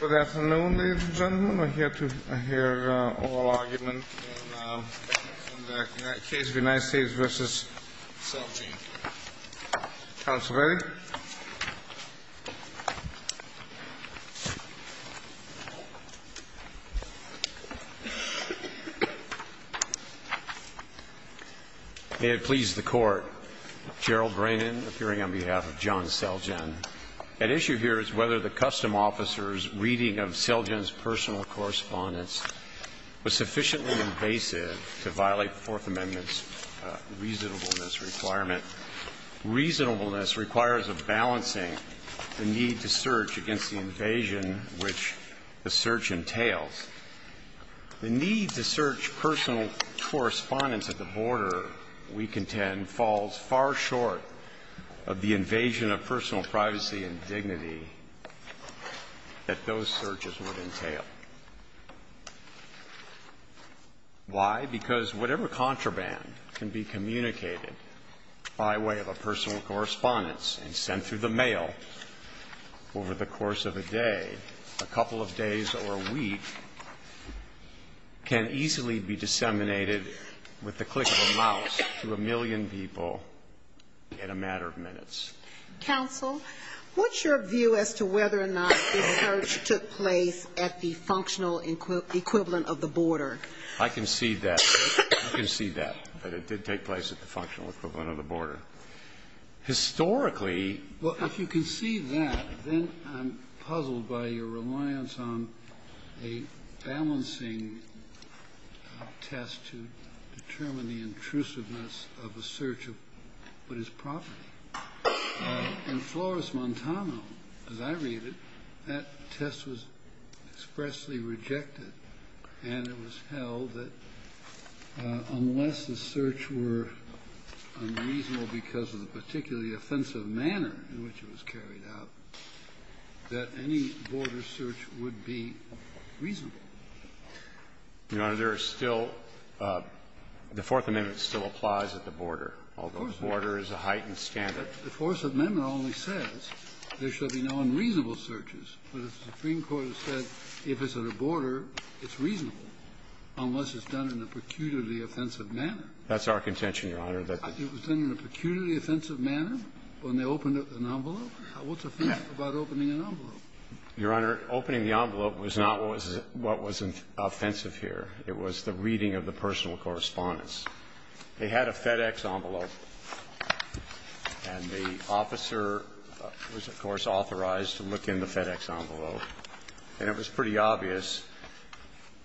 Good afternoon, ladies and gentlemen. I'm here to hear oral argument in the case of the United States v. Seljan. Counsel ready? May it please the Court, Gerald Ranin, appearing on behalf of John Seljan. At issue here is whether the custom officer's reading of Seljan's personal correspondence was sufficiently invasive to violate the Fourth Amendment's reasonableness requirement. Reasonableness requires a balancing, a need to search against the invasion which the search entails. The need to search personal correspondence at the border, we contend, falls far short of the invasion of personal privacy and dignity that those searches would entail. Why? Because whatever contraband can be communicated by way of a personal correspondence and sent through the mail over the course of a day, a couple of days or a week, can easily be disseminated with the click of a mouse to a million people in a matter of minutes. Counsel, what's your view as to whether or not the search took place at the functional equivalent of the border? I concede that. I concede that, that it did take place at the functional equivalent of the border. Historically the search was not a problem. Well, if you concede that, then I'm puzzled by your reliance on a balancing test to determine the intrusiveness of a search of what is proper. In Flores-Montano, as I read it, that test was expressly rejected, and it was held that unless the search were unreasonable because of the particularly offensive manner in which it was carried out, that any border search would be reasonable. Your Honor, there is still the Fourth Amendment still applies at the border. Of course. The Supreme Court has said if it's at a border, it's reasonable, unless it's done in a peculiarly offensive manner. That's our contention, Your Honor. It was done in a peculiarly offensive manner when they opened up an envelope? What's offensive about opening an envelope? Your Honor, opening the envelope was not what was offensive here. It was the reading of the personal correspondence. They had a FedEx envelope. And the officer was, of course, authorized to look in the FedEx envelope. And it was pretty obvious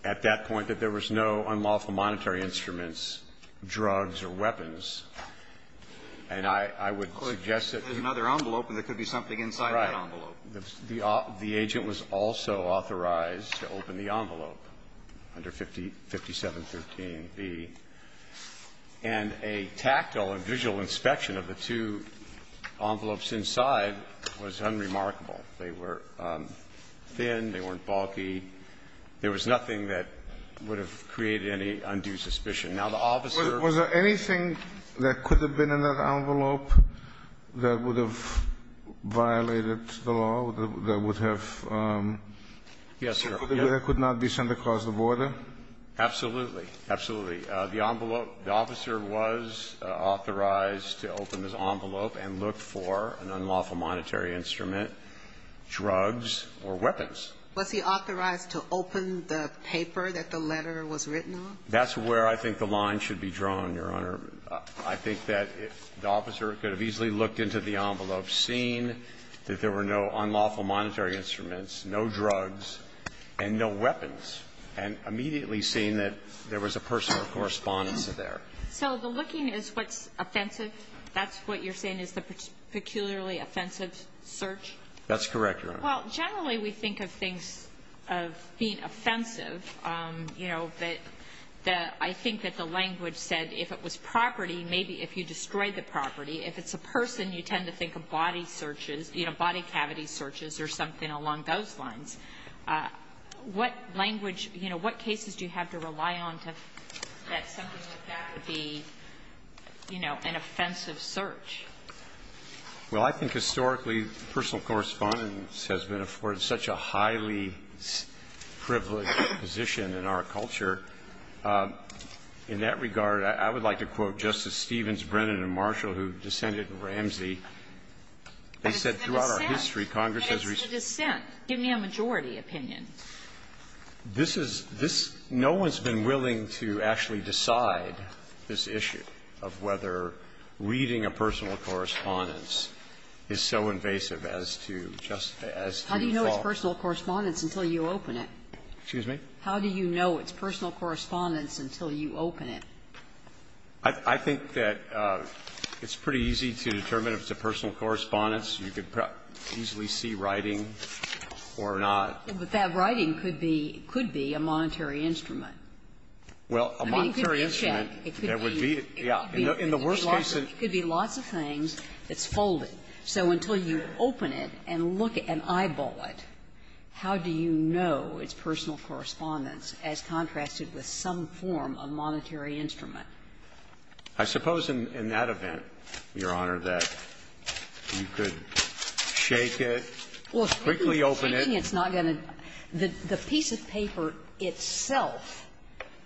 at that point that there was no unlawful monetary instruments, drugs or weapons. And I would suggest that you couldn't. There's another envelope, and there could be something inside that envelope. Right. The agent was also authorized to open the envelope under 5713b. And a tactile and visual inspection of the two envelopes inside was unremarkable. They were thin. They weren't bulky. There was nothing that would have created any undue suspicion. Now, the officer was there. Anything that could have been in that envelope that would have violated the law, that would have been something that could not be sent across the border? Absolutely. Absolutely. The envelope – the officer was authorized to open this envelope and look for an unlawful monetary instrument, drugs or weapons. Was he authorized to open the paper that the letter was written on? That's where I think the line should be drawn, Your Honor. I think that the officer could have easily looked into the envelope, seen that there were no unlawful monetary instruments, no drugs and no weapons, and immediately seen that there was a personal correspondence there. So the looking is what's offensive? That's what you're saying is the peculiarly offensive search? That's correct, Your Honor. Well, generally we think of things of being offensive, you know, that the – I think that the language said if it was property, maybe if you destroyed the property. If it's a person, you tend to think of body searches, you know, body cavity searches or something along those lines. What language – you know, what cases do you have to rely on to – that something like that would be, you know, an offensive search? Well, I think historically personal correspondence has been afforded such a highly privileged position in our culture. In that regard, I would like to quote Justice Stevens, Brennan and Marshall, who descended in Ramsey. They said throughout our history, Congress has recently – But it's the dissent. Give me a majority opinion. This is – this – no one's been willing to actually decide this issue of whether reading a personal correspondence is so invasive as to just – as to follow. How do you know it's personal correspondence until you open it? Excuse me? How do you know it's personal correspondence until you open it? I think that it's pretty easy to determine if it's a personal correspondence. You could easily see writing or not. But that writing could be – could be a monetary instrument. Well, a monetary instrument, there would be – yeah. In the worst case, it could be lots of things that's folded. So until you open it and look at it and eyeball it, how do you know it's personal correspondence as contrasted with some form of monetary instrument? I suppose in that event, Your Honor, that you could shake it, quickly open it. Well, if you're shaking it, it's not going to – the piece of paper itself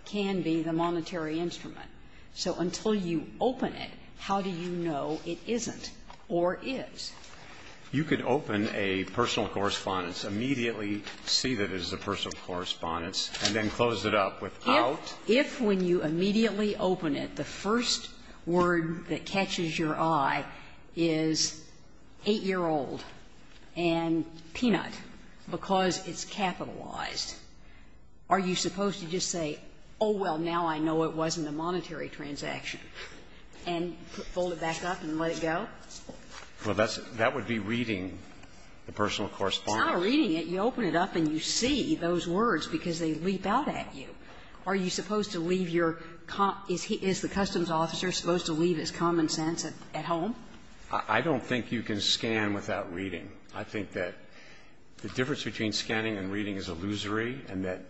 can be the monetary instrument. So until you open it, how do you know it isn't or is? You could open a personal correspondence, immediately see that it is a personal correspondence, and then close it up without – If – if when you immediately open it, the first word that catches your eye is 8-year-old and peanut, because it's capitalized, are you supposed to just say, oh, well, now I know it wasn't a monetary transaction, and fold it back up and let it go? Well, that's – that would be reading the personal correspondence. It's not reading it. You open it up and you see those words because they leap out at you. Are you supposed to leave your – is the customs officer supposed to leave his common sense at home? I don't think you can scan without reading. I think that the difference between scanning and reading is illusory, and that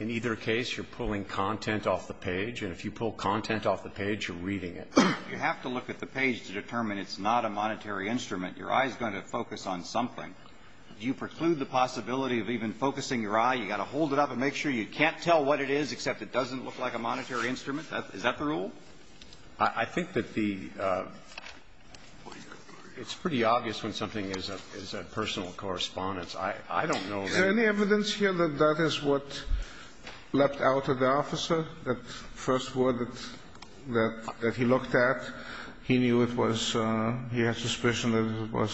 in either case, you're pulling content off the page, and if you pull content off the page, you're reading it. You have to look at the page to determine it's not a monetary instrument. Your eye is going to focus on something. Do you preclude the possibility of even focusing your eye? You've got to hold it up and make sure you can't tell what it is, except it doesn't look like a monetary instrument? Is that the rule? I think that the – it's pretty obvious when something is a personal correspondence. I don't know that – Is there any evidence here that that is what leapt out at the officer, that first word that he looked at? He knew it was – he had suspicion that it was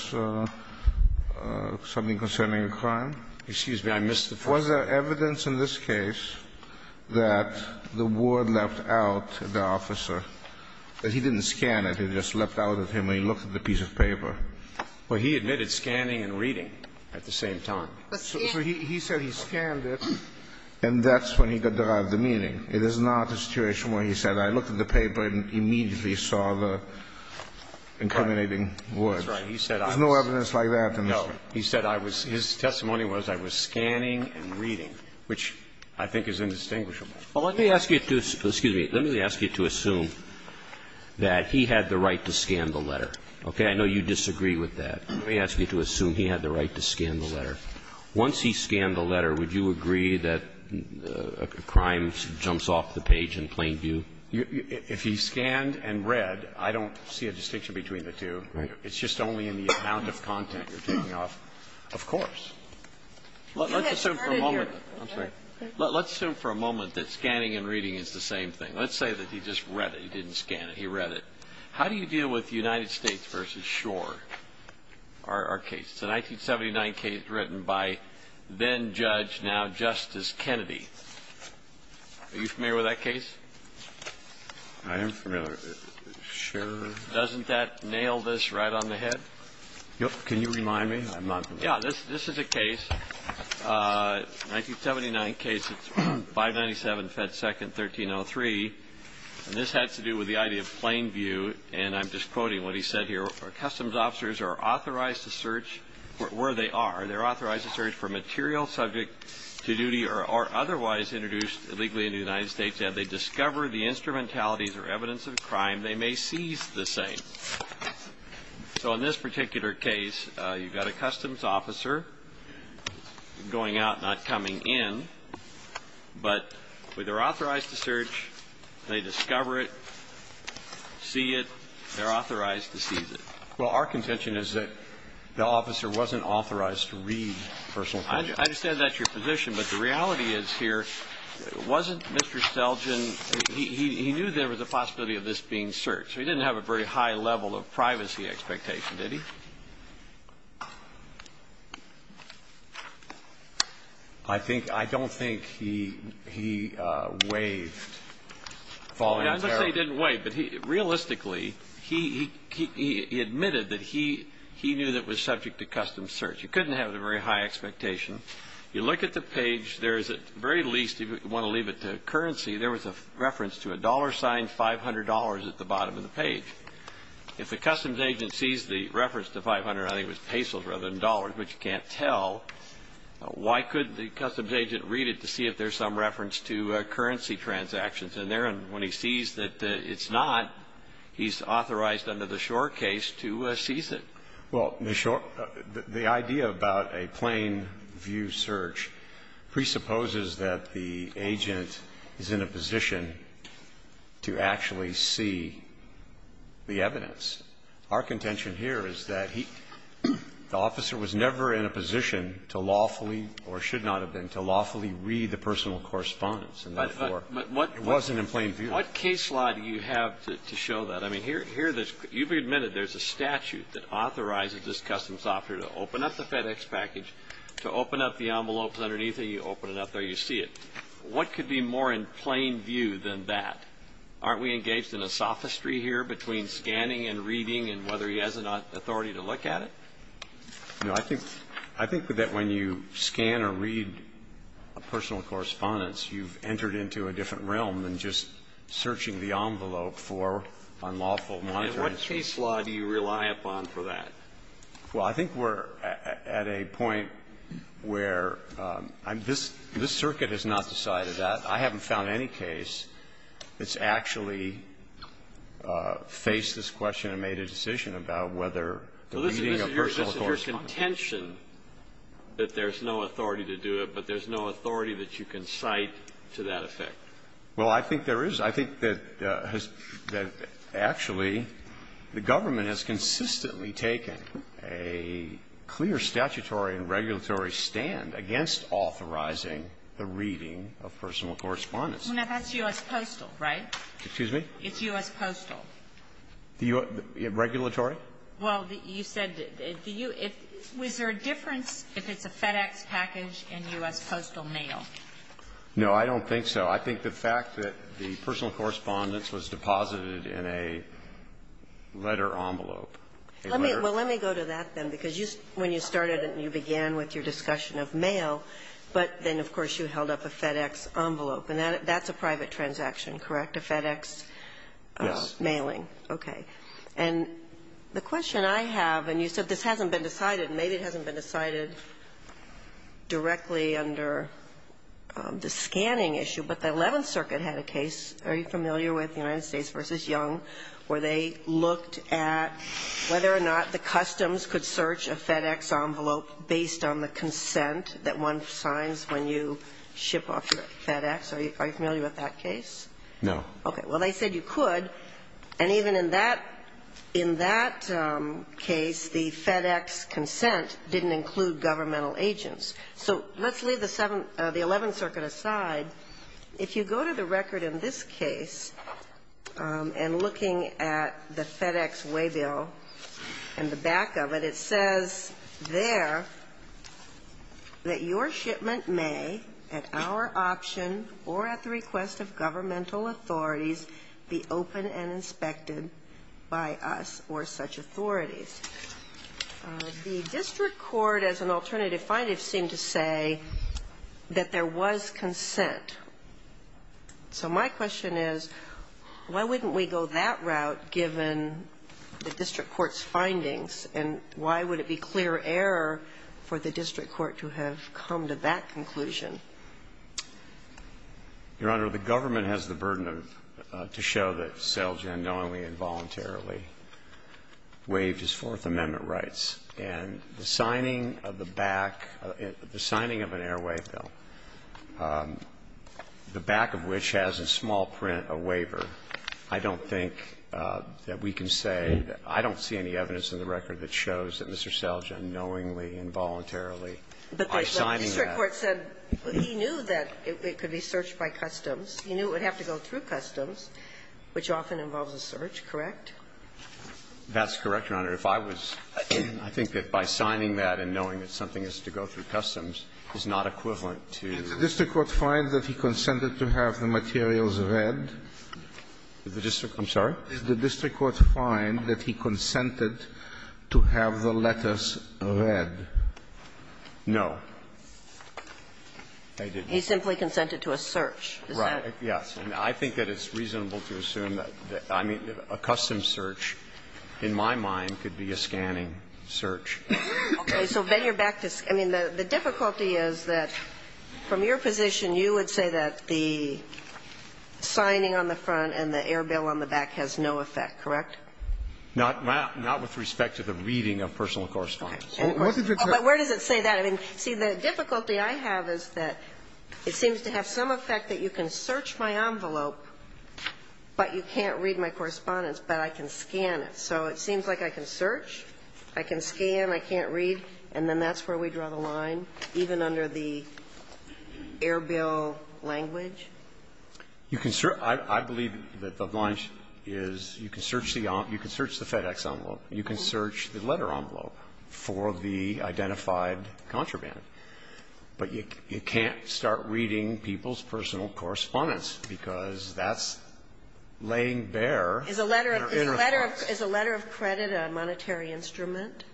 something concerning a crime? Excuse me. I missed the first word. Was there evidence in this case that the word leapt out at the officer, that he didn't scan it, it just leapt out at him and he looked at the piece of paper? Well, he admitted scanning and reading at the same time. So he said he scanned it, and that's when he derived the meaning. It is not a situation where he said, I looked at the paper and immediately saw the incriminating words. That's right. There's no evidence like that in this case. So he said I was – his testimony was I was scanning and reading, which I think is indistinguishable. Well, let me ask you to – excuse me. Let me ask you to assume that he had the right to scan the letter. Okay? I know you disagree with that. Let me ask you to assume he had the right to scan the letter. Once he scanned the letter, would you agree that a crime jumps off the page in plain view? If he scanned and read, I don't see a distinction between the two. Right. It's just only in the amount of content you're taking off. Of course. Let's assume for a moment. I'm sorry. Let's assume for a moment that scanning and reading is the same thing. Let's say that he just read it. He didn't scan it. He read it. How do you deal with United States v. Schor, our case? It's a 1979 case written by then-judge, now Justice Kennedy. Are you familiar with that case? I am familiar. Schor. Doesn't that nail this right on the head? Yep. Can you remind me? I'm not familiar. Yeah. This is a case, a 1979 case. It's 597 Fed Second 1303, and this has to do with the idea of plain view, and I'm just quoting what he said here. Customs officers are authorized to search where they are. They're authorized to search for material subject to duty or otherwise introduced illegally into the United States. If they discover the instrumentalities or evidence of a crime, they may seize the same. So in this particular case, you've got a customs officer going out, not coming in, but they're authorized to search. They discover it, see it. They're authorized to seize it. Well, our contention is that the officer wasn't authorized to read personal documents. I understand that's your position, but the reality is here, wasn't Mr. Selgin, he knew there was a possibility of this being searched. So he didn't have a very high level of privacy expectation, did he? I don't think he waived voluntarily. I'm not saying he didn't waive, but realistically, he admitted that he knew that it was subject to custom search. You couldn't have a very high expectation. You look at the page. There is at the very least, if you want to leave it to currency, there was a reference to a dollar sign, $500, at the bottom of the page. If the customs agent sees the reference to 500, I think it was pesos rather than dollars, which you can't tell, why couldn't the customs agent read it to see if there's some reference to currency transactions in there? And when he sees that it's not, he's authorized under the Shore case to seize it. Well, the idea about a plain view search presupposes that the agent is in a position to actually see the evidence. Our contention here is that he, the officer was never in a position to lawfully or should not have been to lawfully read the personal correspondence. And therefore, it wasn't in plain view. What case law do you have to show that? I mean, here, you've admitted there's a statute that authorizes this customs officer to open up the FedEx package, to open up the envelopes underneath it. You open it up there, you see it. What could be more in plain view than that? Aren't we engaged in a sophistry here between scanning and reading and whether he has an authority to look at it? No. I think that when you scan or read a personal correspondence, you've entered into a different realm than just searching the envelope for unlawful monetary exchange. And what case law do you rely upon for that? Well, I think we're at a point where this circuit has not decided that. I haven't found any case that's actually faced this question and made a decision about whether the reading of personal correspondence. Well, this is your contention that there's no authority to do it, but there's no authority that you can cite to that effect. Well, I think there is. I think that actually the government has consistently taken a clear statutory and regulatory stand against authorizing the reading of personal correspondence. Well, now, that's U.S. Postal, right? Excuse me? It's U.S. Postal. The U.S. regulatory? Well, you said the U.S. Is there a difference if it's a FedEx package and U.S. Postal mail? No, I don't think so. I think the fact that the personal correspondence was deposited in a letter envelope a letter. Well, let me go to that, then, because when you started and you began with your discussion of mail, but then, of course, you held up a FedEx envelope, and that's a private transaction, correct, a FedEx mailing? Yes. Okay. And the question I have, and you said this hasn't been decided, maybe it hasn't been decided directly under the scanning issue, but the Eleventh Circuit had a case, are you familiar, with the United States v. Young, where they looked at whether or not the customs could search a FedEx envelope based on the consent that one signs when you ship off your FedEx. Are you familiar with that case? No. Okay. Well, they said you could. And even in that case, the FedEx consent didn't include governmental agents. So let's leave the Eleventh Circuit aside. If you go to the record in this case, and looking at the FedEx waybill in the back of it, it says there that your shipment may, at our option or at the request of governmental authorities, be open and inspected by us or such authorities. The district court, as an alternative finding, seemed to say that there was consent. So my question is, why wouldn't we go that route, given the district court's findings, and why would it be clear error for the district court to have come to that conclusion? Your Honor, the government has the burden of to show that Selgin knowingly and voluntarily waived his Fourth Amendment rights. And the signing of the back, the signing of an airway bill, the back of which has in small print a waiver, I don't think that we can say, I don't see any evidence in the record that shows that Mr. Selgin knowingly and voluntarily signed that. The district court said he knew that it could be searched by customs. He knew it would have to go through customs, which often involves a search, correct? That's correct, Your Honor. If I was, I think that by signing that and knowing that something has to go through customs is not equivalent to. Did the district court find that he consented to have the materials read? The district court, I'm sorry? Did the district court find that he consented to have the letters read? No. They didn't. He simply consented to a search. Right. Yes. And I think that it's reasonable to assume that, I mean, a custom search, in my mind, could be a scanning search. Okay. So then you're back to the ‑‑ I mean, the difficulty is that from your position, you would say that the signing on the front and the air bill on the back has no effect, correct? Not with respect to the reading of personal correspondence. Okay. But where does it say that? I mean, see, the difficulty I have is that it seems to have some effect that you can search my envelope, but you can't read my correspondence, but I can scan it. So it seems like I can search, I can scan, I can't read, and then that's where we draw the line, even under the air bill language? You can search ‑‑ I believe that the line is you can search the FedEx envelope. You can search the letter envelope for the identified contraband. But you can't start reading people's personal correspondence, because that's laying bare their inner thoughts. Is a letter of credit a monetary instrument?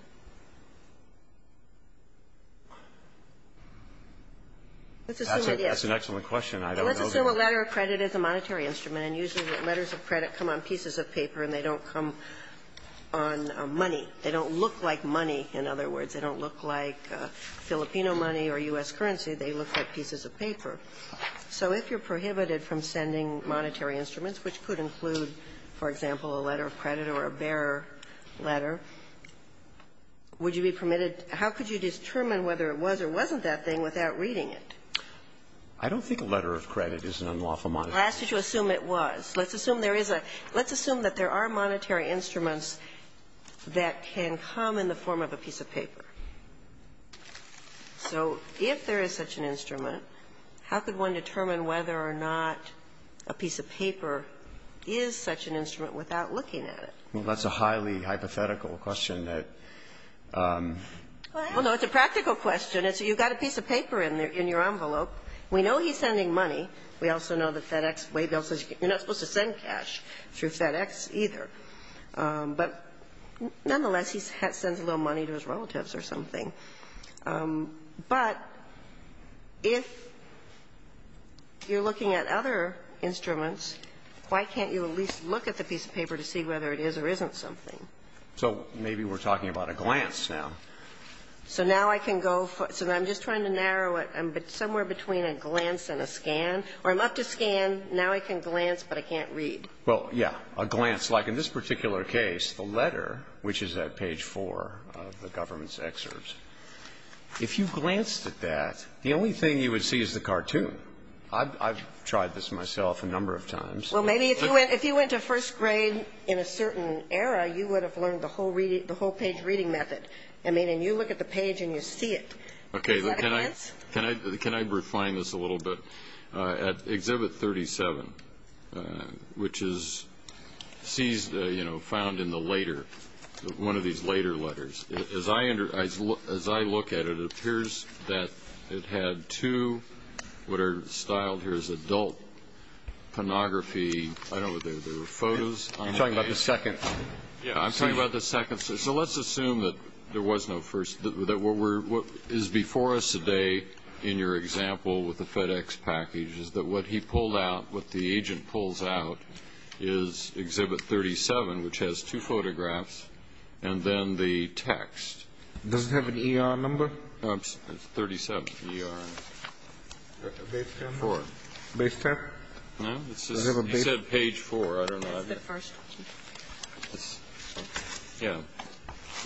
Let's assume it is. That's an excellent question. I don't know the answer. Let's assume a letter of credit is a monetary instrument. And usually letters of credit come on pieces of paper and they don't come on money. They don't look like money, in other words. They don't look like Filipino money or U.S. currency. They look like pieces of paper. So if you're prohibited from sending monetary instruments, which could include, for example, a letter of credit or a bare letter, would you be permitted ‑‑ how could you determine whether it was or wasn't that thing without reading it? Well, I asked you to assume it was. Let's assume there is a ‑‑ let's assume that there are monetary instruments that can come in the form of a piece of paper. So if there is such an instrument, how could one determine whether or not a piece of paper is such an instrument without looking at it? Well, that's a highly hypothetical question that ‑‑ Well, no, it's a practical question. You've got a piece of paper in your envelope. We know he's sending money. We also know that FedEx, Waybill says you're not supposed to send cash through FedEx either. But nonetheless, he sends a little money to his relatives or something. But if you're looking at other instruments, why can't you at least look at the piece of paper to see whether it is or isn't something? So maybe we're talking about a glance now. So now I can go ‑‑ so I'm just trying to narrow it somewhere between a glance and a scan, or I'm up to scan. Now I can glance, but I can't read. Well, yeah, a glance. Like in this particular case, the letter, which is at page 4 of the government's excerpts, if you glanced at that, the only thing you would see is the cartoon. I've tried this myself a number of times. Well, maybe if you went to first grade in a certain era, you would have learned the whole page reading method. I mean, and you look at the page and you see it. Is that a glance? Can I refine this a little bit? At Exhibit 37, which is found in the later, one of these later letters, as I look at it, it appears that it had two what are styled here as adult pornography. I don't know if there were photos. I'm talking about the second. Yeah, I'm talking about the second. So let's assume that there was no first. What is before us today in your example with the FedEx package is that what he pulled out, what the agent pulls out, is Exhibit 37, which has two photographs and then the text. Does it have an ER number? It's 37. Base tab? No. He said page 4. That's the first. Yeah.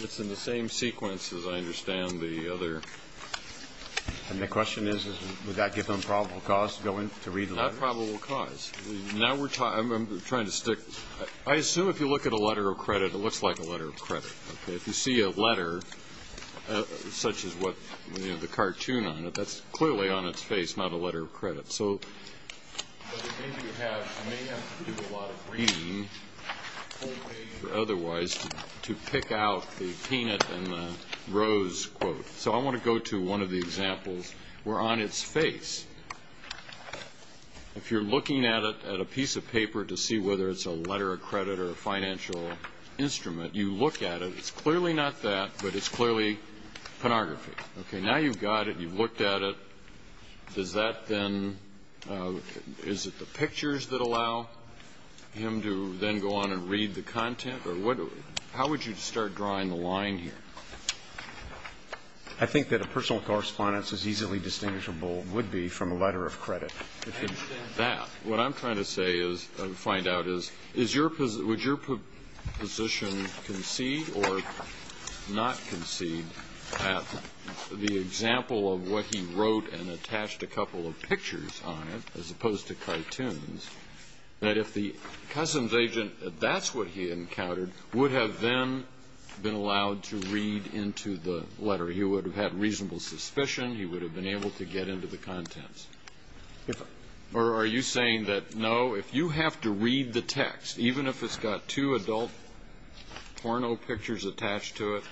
It's in the same sequence as I understand the other. And the question is, would that give them probable cause to go in to read letters? Not probable cause. I'm trying to stick. I assume if you look at a letter of credit, it looks like a letter of credit. If you see a letter, such as the cartoon on it, that's clearly on its face, not a letter of credit. But the danger you have is you may have to do a lot of reading, full page or otherwise, to pick out the peanut and the rose quote. So I want to go to one of the examples where on its face, if you're looking at a piece of paper to see whether it's a letter of credit or a financial instrument, you look at it. It's clearly not that, but it's clearly pornography. Now you've got it. You've looked at it. Does that then, is it the pictures that allow him to then go on and read the content? How would you start drawing the line here? I think that a personal correspondence is easily distinguishable, would be, from a letter of credit. I understand that. What I'm trying to say is, find out is, would your position concede or not concede that the example of what he wrote and attached a couple of pictures on it, as opposed to cartoons, that if the customs agent, that that's what he encountered, would have then been allowed to read into the letter? He would have had reasonable suspicion. He would have been able to get into the contents. Or are you saying that, no, if you have to read the text, even if it's got two adult porno pictures attached to it,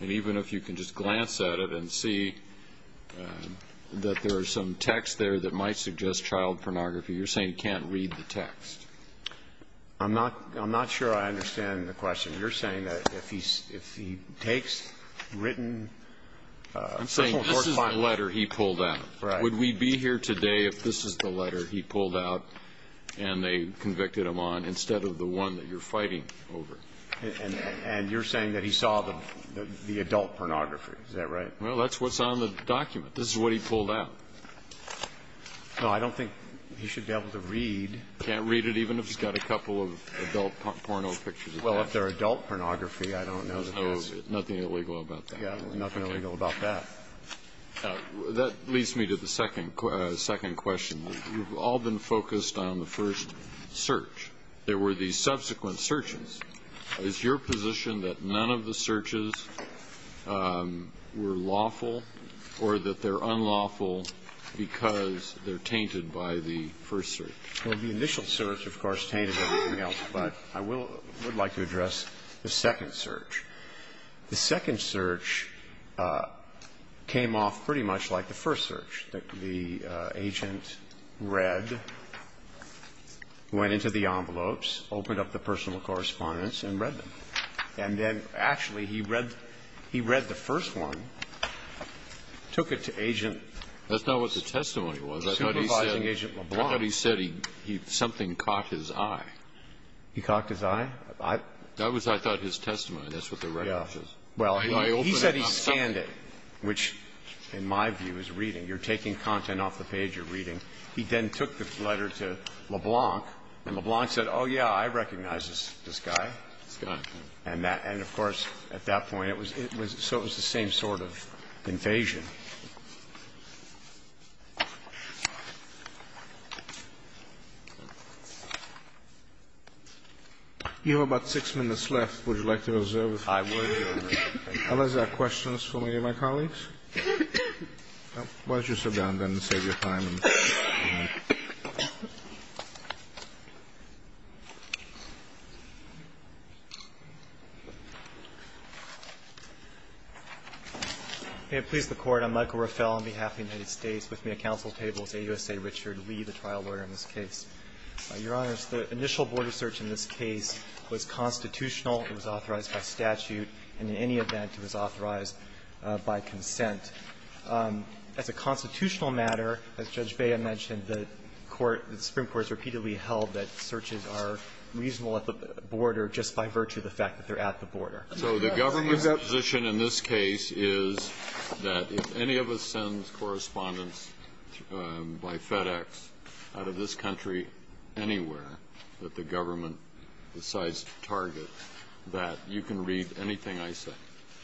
and even if you can just glance at it and see that there are some texts there that might suggest child pornography, you're saying he can't read the text? I'm not sure I understand the question. You're saying that if he takes written personal correspondence. I'm saying this is the letter he pulled out. Right. Would we be here today if this is the letter he pulled out and they convicted him on, instead of the one that you're fighting over? And you're saying that he saw the adult pornography. Is that right? Well, that's what's on the document. This is what he pulled out. No, I don't think he should be able to read. He can't read it, even if it's got a couple of adult porno pictures attached to it. Well, if they're adult pornography, I don't know that that's it. There's nothing illegal about that. Yeah. Nothing illegal about that. That leads me to the second question. We've all been focused on the first search. There were the subsequent searches. Is your position that none of the searches were lawful or that they're unlawful because they're tainted by the first search? Well, the initial search, of course, tainted everything else. But I would like to address the second search. The second search came off pretty much like the first search. The agent read, went into the envelopes, opened up the personal correspondence and read them. And then, actually, he read the first one, took it to Agent LeBlanc. That's not what the testimony was. I thought he said he had something caught his eye. He caught his eye? That was, I thought, his testimony. That's what the record says. Well, he said he scanned it, which, in my view, is reading. You're taking content off the page you're reading. He then took the letter to LeBlanc, and LeBlanc said, oh, yeah, I recognize this guy. This guy. And, of course, at that point, it was the same sort of invasion. You have about six minutes left. Would you like to reserve a five-word? I would. Unless there are questions for me and my colleagues. Why don't you sit down, then, and save your time. May it please the Court. I'm Michael Rafel on behalf of the United States. With me at counsel's table is AUSA Richard Lee, the trial lawyer in this case. Your Honors, the initial border search in this case was constitutional. It was authorized by statute. And in any event, it was authorized by consent. As a constitutional matter, as Judge Bea mentioned, the Supreme Court has repeatedly held that searches are reasonable at the border just by virtue of the fact that they're at the border. So the government's position in this case is that if any of us sends correspondence by FedEx out of this country anywhere that the government decides to target, that you can read anything I say.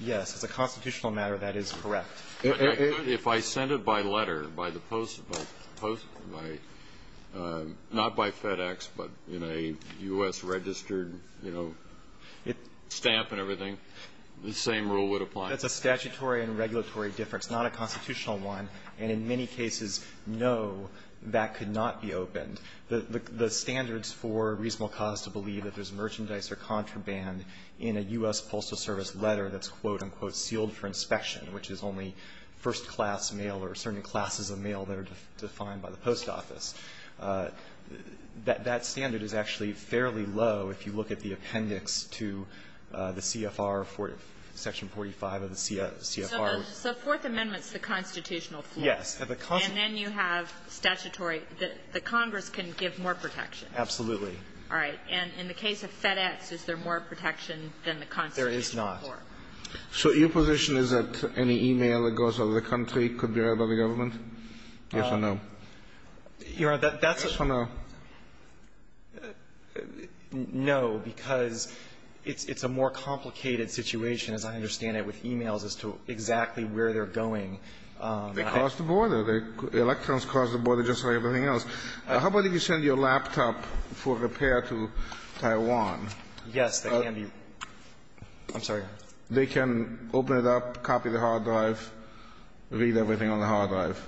Yes. As a constitutional matter, that is correct. If I send it by letter, not by FedEx, but in a U.S. registered stamp and everything, the same rule would apply? That's a statutory and regulatory difference, not a constitutional one. And in many cases, no, that could not be opened. The standards for reasonable cause to believe if there's merchandise or contraband in a U.S. Postal Service letter that's, quote, unquote, sealed for inspection, which is only first-class mail or certain classes of mail that are defined by the post office, that standard is actually fairly low if you look at the appendix to the CFR, Section 45 of the CFR. So Fourth Amendment's the constitutional floor. Yes. And then you have statutory. The Congress can give more protection. Absolutely. All right. And in the case of FedEx, is there more protection than the constitutional floor? There is not. So your position is that any e-mail that goes out of the country could be read by the government? Yes or no? Your Honor, that's a ---- Yes or no? No, because it's a more complicated situation, as I understand it, with e-mails as to exactly where they're going. They cross the border. Electrons cross the border just like everything else. How about if you send your laptop for repair to Taiwan? Yes, they can be ---- I'm sorry. They can open it up, copy the hard drive, read everything on the hard drive?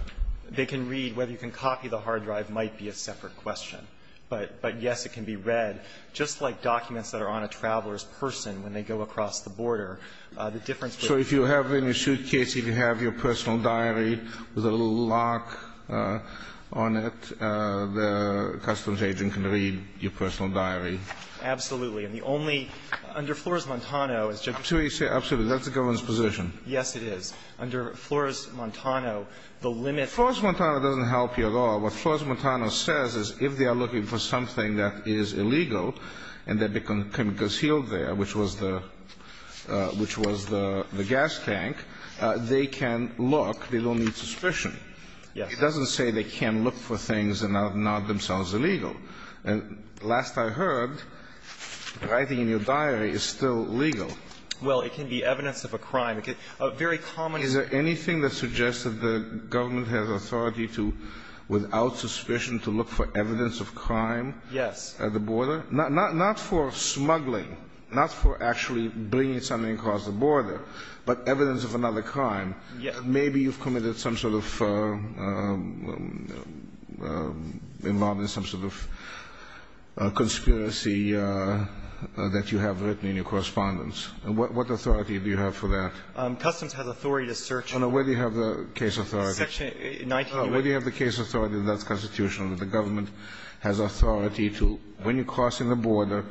They can read. Whether you can copy the hard drive might be a separate question. But yes, it can be read, just like documents that are on a traveler's person when they go across the border. The difference is ---- So if you have in your suitcase, if you have your personal diary with a little mark on it, the customs agent can read your personal diary? Absolutely. And the only ---- under Flores-Montano, as Justice ---- Absolutely. That's the government's position. Yes, it is. Under Flores-Montano, the limit ---- Flores-Montano doesn't help you at all. What Flores-Montano says is if they are looking for something that is illegal and that can be concealed there, which was the gas tank, they can look. They don't need suspicion. Yes. It doesn't say they can't look for things that are not themselves illegal. And last I heard, writing in your diary is still legal. Well, it can be evidence of a crime. A very common ---- Is there anything that suggests that the government has authority to, without suspicion, to look for evidence of crime? Yes. At the border? Not for smuggling, not for actually bringing something across the border, but evidence of another crime. Yes. Maybe you've committed some sort of ---- involved in some sort of conspiracy that you have written in your correspondence. What authority do you have for that? Customs has authority to search ---- Where do you have the case authority? Section 19. Where do you have the case authority that's constitutional, that the government has authority to, when you're crossing the border,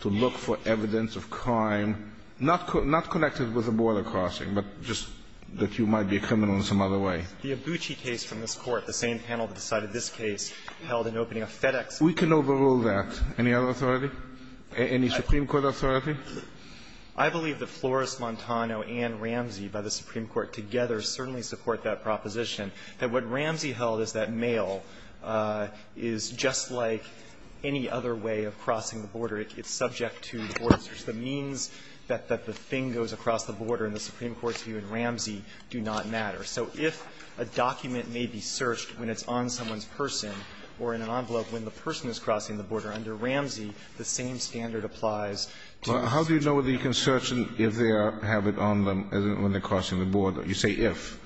to look for evidence of crime not connected with the border crossing, but just that you might be a criminal in some other way? The Abbucci case from this Court, the same panel that decided this case, held an opening of FedEx. We can overrule that. Any other authority? Any Supreme Court authority? I believe that Flores-Montano and Ramsey by the Supreme Court together certainly support that proposition, that what Ramsey held is that mail is just like any other way of crossing the border. It's subject to the border search. The means that the thing goes across the border in the Supreme Court's view in Ramsey do not matter. So if a document may be searched when it's on someone's person or in an envelope when the person is crossing the border under Ramsey, the same standard applies to the search. Well, how do you know whether you can search if they have it on them when they're crossing the border? You say if,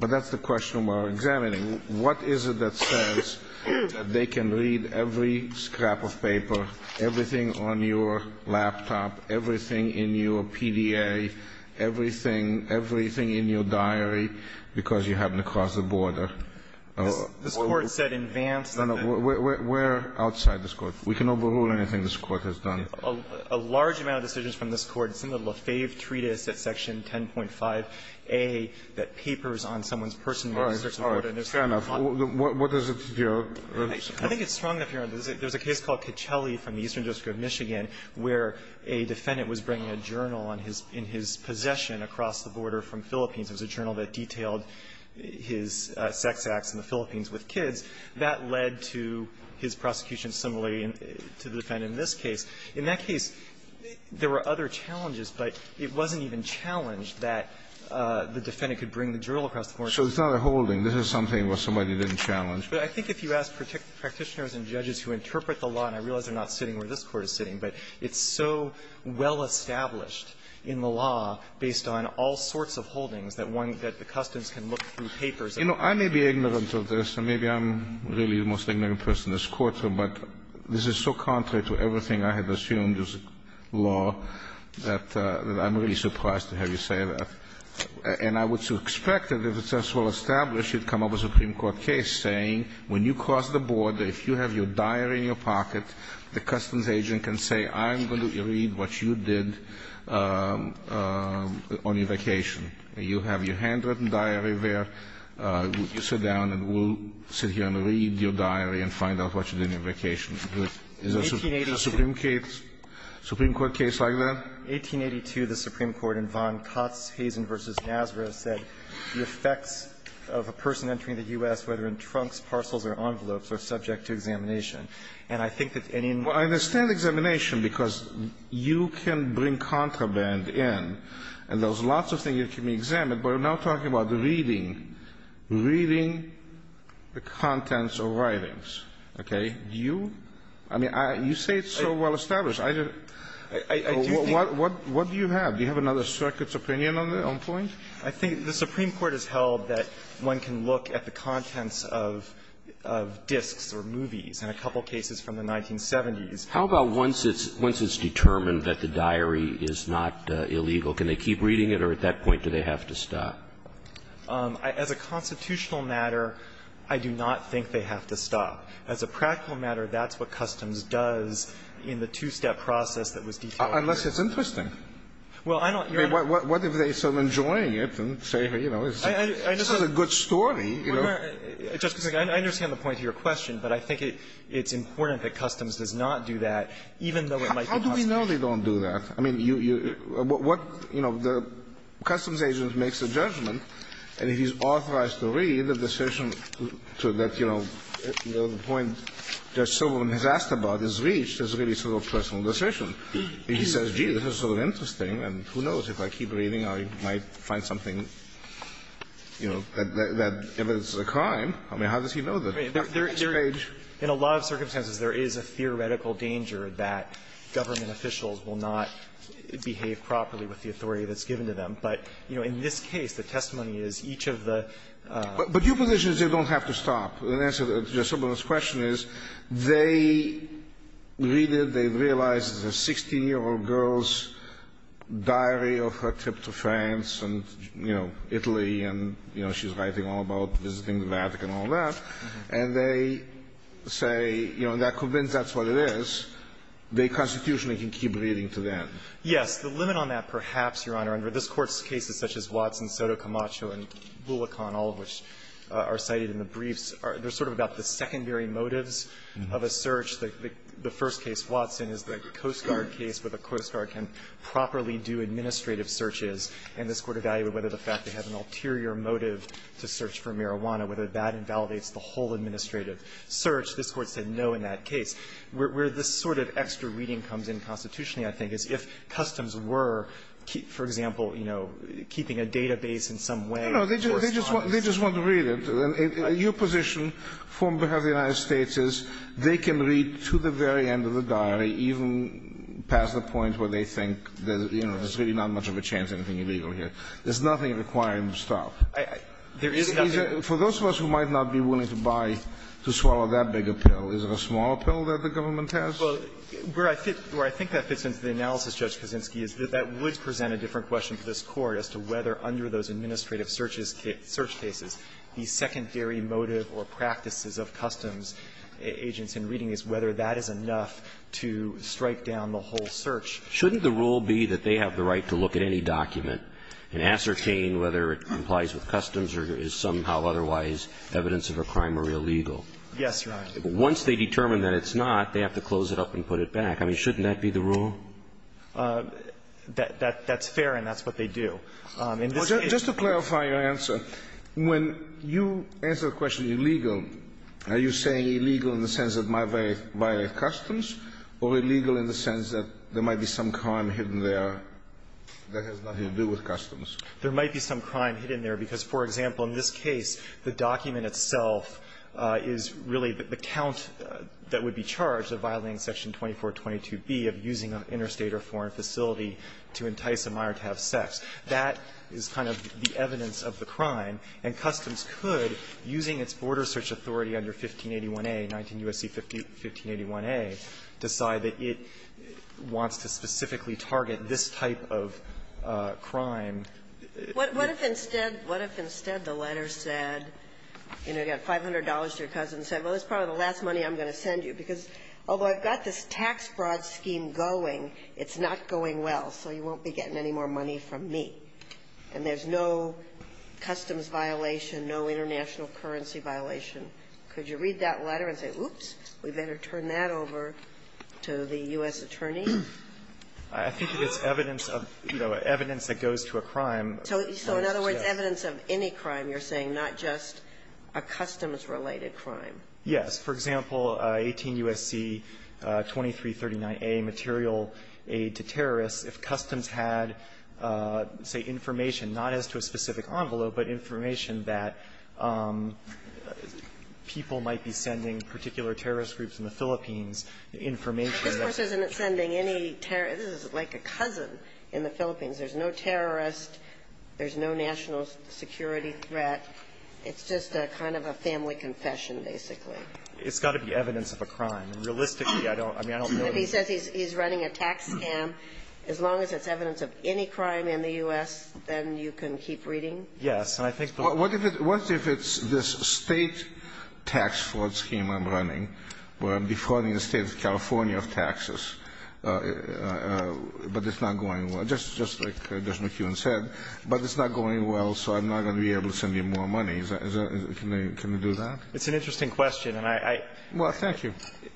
but that's the question we're examining. What is it that says that they can read every scrap of paper, everything on your laptop, everything in your PDA, everything, everything in your diary, because you happen to cross the border? This Court said in advance that the No, no. We're outside this Court. We can overrule anything this Court has done. A large amount of decisions from this Court, it's in the Lefebvre treatise at section 10.5a that papers on someone's personal search of the border and there's a lot of them. Kennedy, what does it appear? I think it's strong enough here. There's a case called Cacelli from the Eastern District of Michigan where a defendant was bringing a journal in his possession across the border from Philippines. It was a journal that detailed his sex acts in the Philippines with kids. That led to his prosecution similarly to the defendant in this case. In that case, there were other challenges, but it wasn't even challenged that the defendant could bring the journal across the border. So it's not a holding. This is something where somebody didn't challenge. But I think if you ask practitioners and judges who interpret the law, and I realize they're not sitting where this Court is sitting, but it's so well established in the law based on all sorts of holdings that one of the customs can look through papers. You know, I may be ignorant of this, and maybe I'm really the most ignorant person in this courtroom, but this is so contrary to everything I had assumed as law that I'm really surprised to have you say that. And I would expect that if it's as well established, you'd come up with a Supreme Court case saying when you cross the border, if you have your diary in your pocket, the customs agent can say, I'm going to read what you did on your vacation. You have your handwritten diary there. Would you sit down and we'll sit here and read your diary and find out what you did on your vacation. Is a Supreme Court case like that? 1882, the Supreme Court in Von Kotzhazen v. Nazareth said the effects of a person entering the U.S., whether in trunks, parcels, or envelopes, are subject to examination. And I think that's any and all. Well, I understand examination because you can bring contraband in, and there's I'm not talking about reading. Reading the contents of writings. Okay? Do you? I mean, you say it's so well established. What do you have? Do you have another circuit's opinion on the point? I think the Supreme Court has held that one can look at the contents of discs or movies in a couple cases from the 1970s. How about once it's determined that the diary is not illegal? Can they keep reading it, or at that point do they have to stop? As a constitutional matter, I do not think they have to stop. As a practical matter, that's what Customs does in the two-step process that was detailed earlier. Unless it's interesting. Well, I don't think so. I mean, what if they start enjoying it and say, you know, this is a good story. I understand the point of your question, but I think it's important that Customs does not do that, even though it might be possible. How do we know they don't do that? I mean, what, you know, the Customs agent makes a judgment, and if he's authorized to read the decision to that, you know, the point Judge Silverman has asked about is reached as really sort of a personal decision. If he says, gee, this is sort of interesting, and who knows, if I keep reading, I might find something, you know, that if it's a crime, I mean, how does he know that? In a lot of circumstances, there is a theoretical danger that government officials will not behave properly with the authority that's given to them. But, you know, in this case, the testimony is each of the ---- But your position is they don't have to stop. The answer to Judge Silverman's question is they read it, they realize it's a 16-year-old girl's diary of her trip to France and, you know, Italy, and, you know, she's writing all about visiting the Vatican and all that, and they say, you know, they're convinced that's what it is, they constitutionally can keep reading to them. Yes. The limit on that, perhaps, Your Honor, under this Court's cases such as Watson, Soto, Camacho, and Lulacan, all of which are cited in the briefs, are they're sort of about the secondary motives of a search. The first case, Watson, is the Coast Guard case where the Coast Guard can properly do administrative searches, and this Court evaluated whether the fact they have an ulterior motive to search for marijuana, whether that invalidates the whole administrative search. This Court said no in that case. Where this sort of extra reading comes in constitutionally, I think, is if customs were, for example, you know, keeping a database in some way. No, they just want to read it. Your position, on behalf of the United States, is they can read to the very end of the diary, even past the point where they think that, you know, there's really not much of a chance anything illegal here. There's nothing requiring them to stop. There is nothing. For those of us who might not be willing to buy, to swallow that big a pill, is it a small pill that the government has? Well, where I fit or I think that fits into the analysis, Judge Kaczynski, is that that would present a different question to this Court as to whether under those administrative searches, search cases, the secondary motive or practices of customs agents in reading is whether that is enough to strike down the whole search. Shouldn't the rule be that they have the right to look at any document and ascertain whether it complies with customs or is somehow otherwise evidence of a crime or illegal? Yes, Your Honor. Once they determine that it's not, they have to close it up and put it back. I mean, shouldn't that be the rule? That's fair, and that's what they do. Just to clarify your answer, when you answer the question illegal, are you saying illegal in the sense that my very by customs or illegal in the sense that there might be some crime hidden there that has nothing to do with customs? There might be some crime hidden there because, for example, in this case, the document itself is really the count that would be charged of violating section 2422b of using an interstate or foreign facility to entice a minor to have sex. That is kind of the evidence of the crime, and customs could, using its border search authority under 1581a, 19 U.S.C. 1581a, decide that it wants to specifically target this type of crime. What if instead the letter said, you know, you got $500 to your cousin, said, well, this is probably the last money I'm going to send you, because although I've got this tax fraud scheme going, it's not going well, so you won't be getting any more money from me, and there's no customs violation, no international currency violation. Could you read that letter and say, oops, we better turn that over to the U.S. attorney? I think it's evidence of, you know, evidence that goes to a crime. So in other words, evidence of any crime, you're saying, not just a customs-related crime. Yes. For example, 18 U.S.C. 2339a, material aid to terrorists, if customs had, say, information, not as to a specific envelope, but information that people might be sending particular terrorist groups in the Philippines, information that's going to be sent to the U.S. This is like a cousin in the Philippines. There's no terrorist. There's no national security threat. It's just a kind of a family confession, basically. It's got to be evidence of a crime. Realistically, I don't know. If he says he's running a tax scam, as long as it's evidence of any crime in the U.S., then you can keep reading? Yes. And I think the law What if it's this state tax fraud scheme I'm running, where I'm defrauding the state of California of taxes, but it's not going well? Just like Judge McEwen said, but it's not going well, so I'm not going to be able to send you more money. Can you do that? It's an interesting question, and I Well, thank you.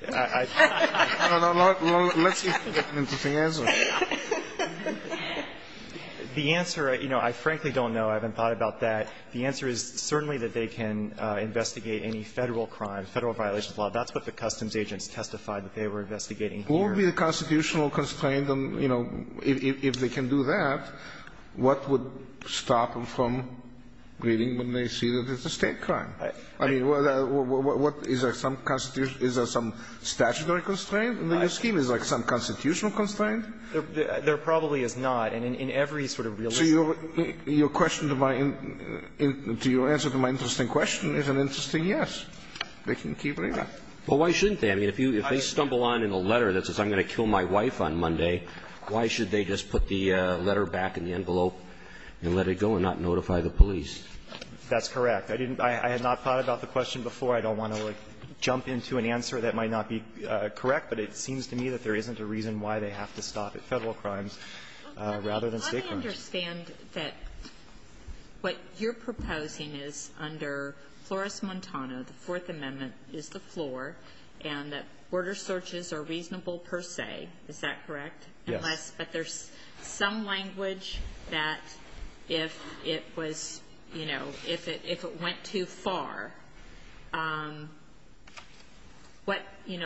I don't know. Let's see if you can get an interesting answer. The answer, you know, I frankly don't know. I haven't thought about that. The answer is certainly that they can investigate any Federal crime, Federal violations of the law. That's what the customs agents testified that they were investigating here. What would be the constitutional constraint, you know, if they can do that, what would stop them from reading when they see that it's a state crime? I mean, what is there some statutory constraint in the new scheme? Is there some constitutional constraint? There probably is not. And in every sort of realistic So your question to my to your answer to my interesting question is an interesting yes, they can keep reading. Well, why shouldn't they? I mean, if they stumble on in a letter that says I'm going to kill my wife on Monday, why should they just put the letter back in the envelope and let it go and not notify the police? That's correct. I didn't I had not thought about the question before. I don't want to jump into an answer that might not be correct, but it seems to me that there isn't a reason why they have to stop at Federal crimes rather than state crimes. Let me understand that what you're proposing is under Flores-Montano, the Fourth Amendment is the floor, and that border searches are reasonable per se. Is that correct? Yes. But there's some language that if it was, you know, if it went too far, what, you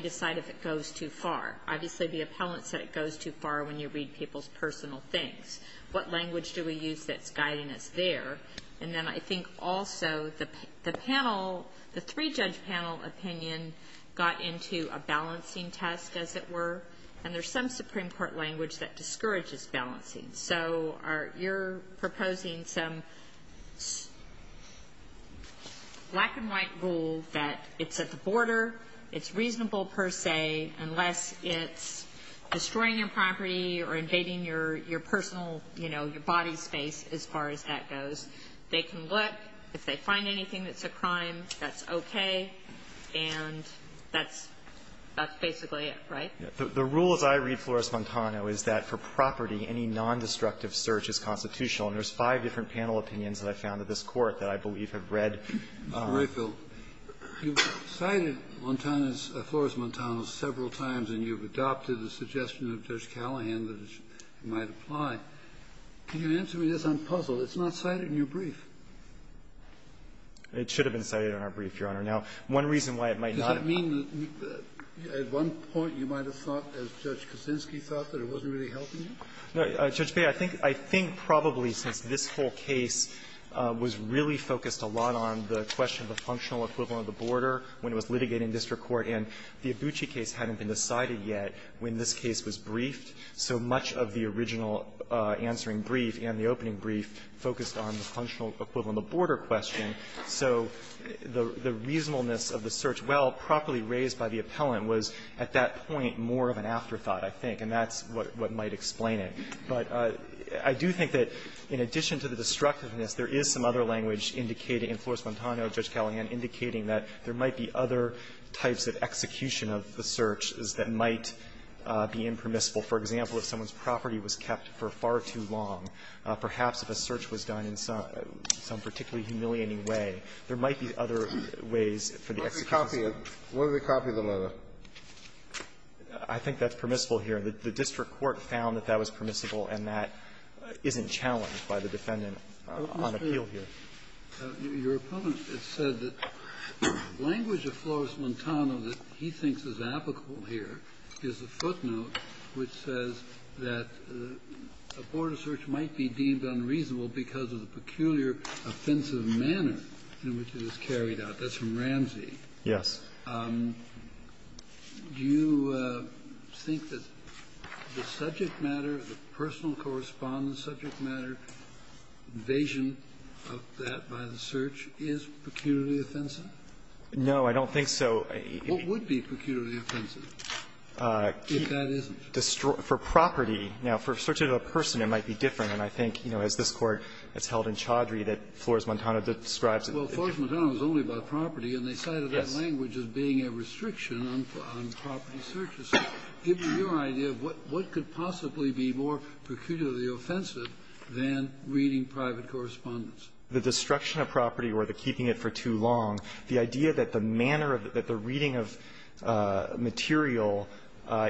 decide if it goes too far. Obviously, the appellant said it goes too far when you read people's personal things. What language do we use that's guiding us there? And then I think also the panel, the three-judge panel opinion got into a balancing test, as it were, and there's some Supreme Court language that discourages balancing. So you're proposing some black-and-white rule that it's at the border, it's reasonable per se, unless it's destroying your property or invading your personal, you know, your body space as far as that goes. They can look. If they find anything that's a crime, that's okay, and that's basically it, right? The rule, as I read Flores-Montano, is that for property, any nondestructive search is constitutional. And there's five different panel opinions that I've found at this Court that I believe have read. Kennedy, you cited Montano's, Flores-Montano's, several times, and you've adopted the suggestion of Judge Callahan that it might apply. Can you answer me this? I'm puzzled. It's not cited in your brief. It should have been cited in our brief, Your Honor. Now, one reason why it might not have been. Does that mean that at one point you might have thought, as Judge Kaczynski thought, that it wasn't really helping you? No, Judge Bea, I think probably since this whole case was really focused a lot on the question of the functional equivalent of the border when it was litigated in district court, and the Abucci case hadn't been decided yet when this case was briefed, so much of the original answering brief and the opening brief focused on the functional equivalent of the border question, so the reasonableness of the search, while properly raised by the appellant, was at that point more of an afterthought, I think, and that's what might explain it. But I do think that in addition to the destructiveness, there is some other language indicating, in Flores-Montano, Judge Kallian, indicating that there might be other types of execution of the search that might be impermissible. For example, if someone's property was kept for far too long, perhaps if a search was done in some particularly humiliating way, there might be other ways for the execution of the search. When did they copy the letter? I think that's permissible here. The district court found that that was permissible, and that isn't challenged by the defendant on appeal here. Kennedy. Your opponent has said that the language of Flores-Montano that he thinks is applicable here is a footnote which says that a border search might be deemed unreasonable because of the peculiar offensive manner in which it is carried out. That's from Ramsey. Yes. Do you think that the subject matter, the personal correspondence subject matter, evasion of that by the search, is peculiarly offensive? No, I don't think so. What would be peculiarly offensive if that isn't? For property. Now, for a search of a person, it might be different. And I think, you know, as this Court has held in Chaudhry that Flores-Montano describes it. Well, Flores-Montano is only about property, and they cited that language as being a restriction on property searches. So give me your idea of what could possibly be more peculiarly offensive than reading private correspondence. The destruction of property or the keeping it for too long, the idea that the manner of the reading of material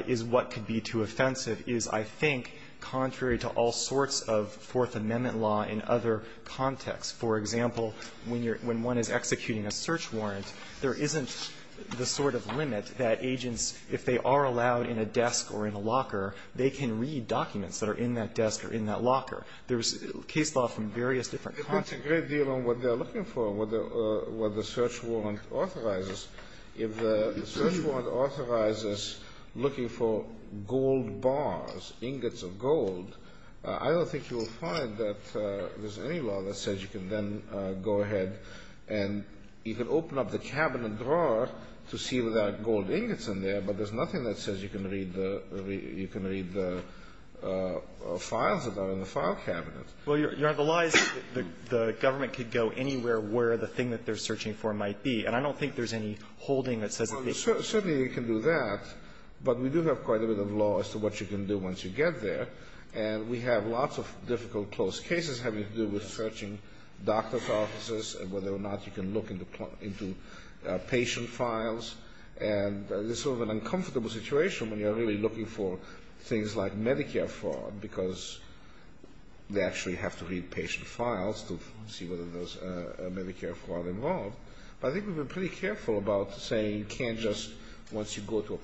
is what could be too offensive is, I think, contrary to all sorts of Fourth Amendment law in other contexts. For example, when you're – when one is executing a search warrant, there isn't the sort of limit that agents, if they are allowed in a desk or in a locker, they can read documents that are in that desk or in that locker. There's case law from various different contexts. It depends a great deal on what they're looking for, what the search warrant authorizes. If the search warrant authorizes looking for gold bars, ingots of gold, I don't think you will find that there's any law that says you can then go ahead and you can open up the cabinet drawer to see if there are gold ingots in there, but there's nothing that says you can read the – you can read the files that are in the file cabinet. Well, Your Honor, the law is that the government could go anywhere where the thing that they're searching for might be, and I don't think there's any holding that says that they can't. There's a lot of difficult closed cases having to do with searching doctor's offices and whether or not you can look into patient files, and there's sort of an uncomfortable situation when you're really looking for things like Medicare fraud because they actually have to read patient files to see whether there's a Medicare fraud involved. But I think we've been pretty careful about saying you can't just – once you go to a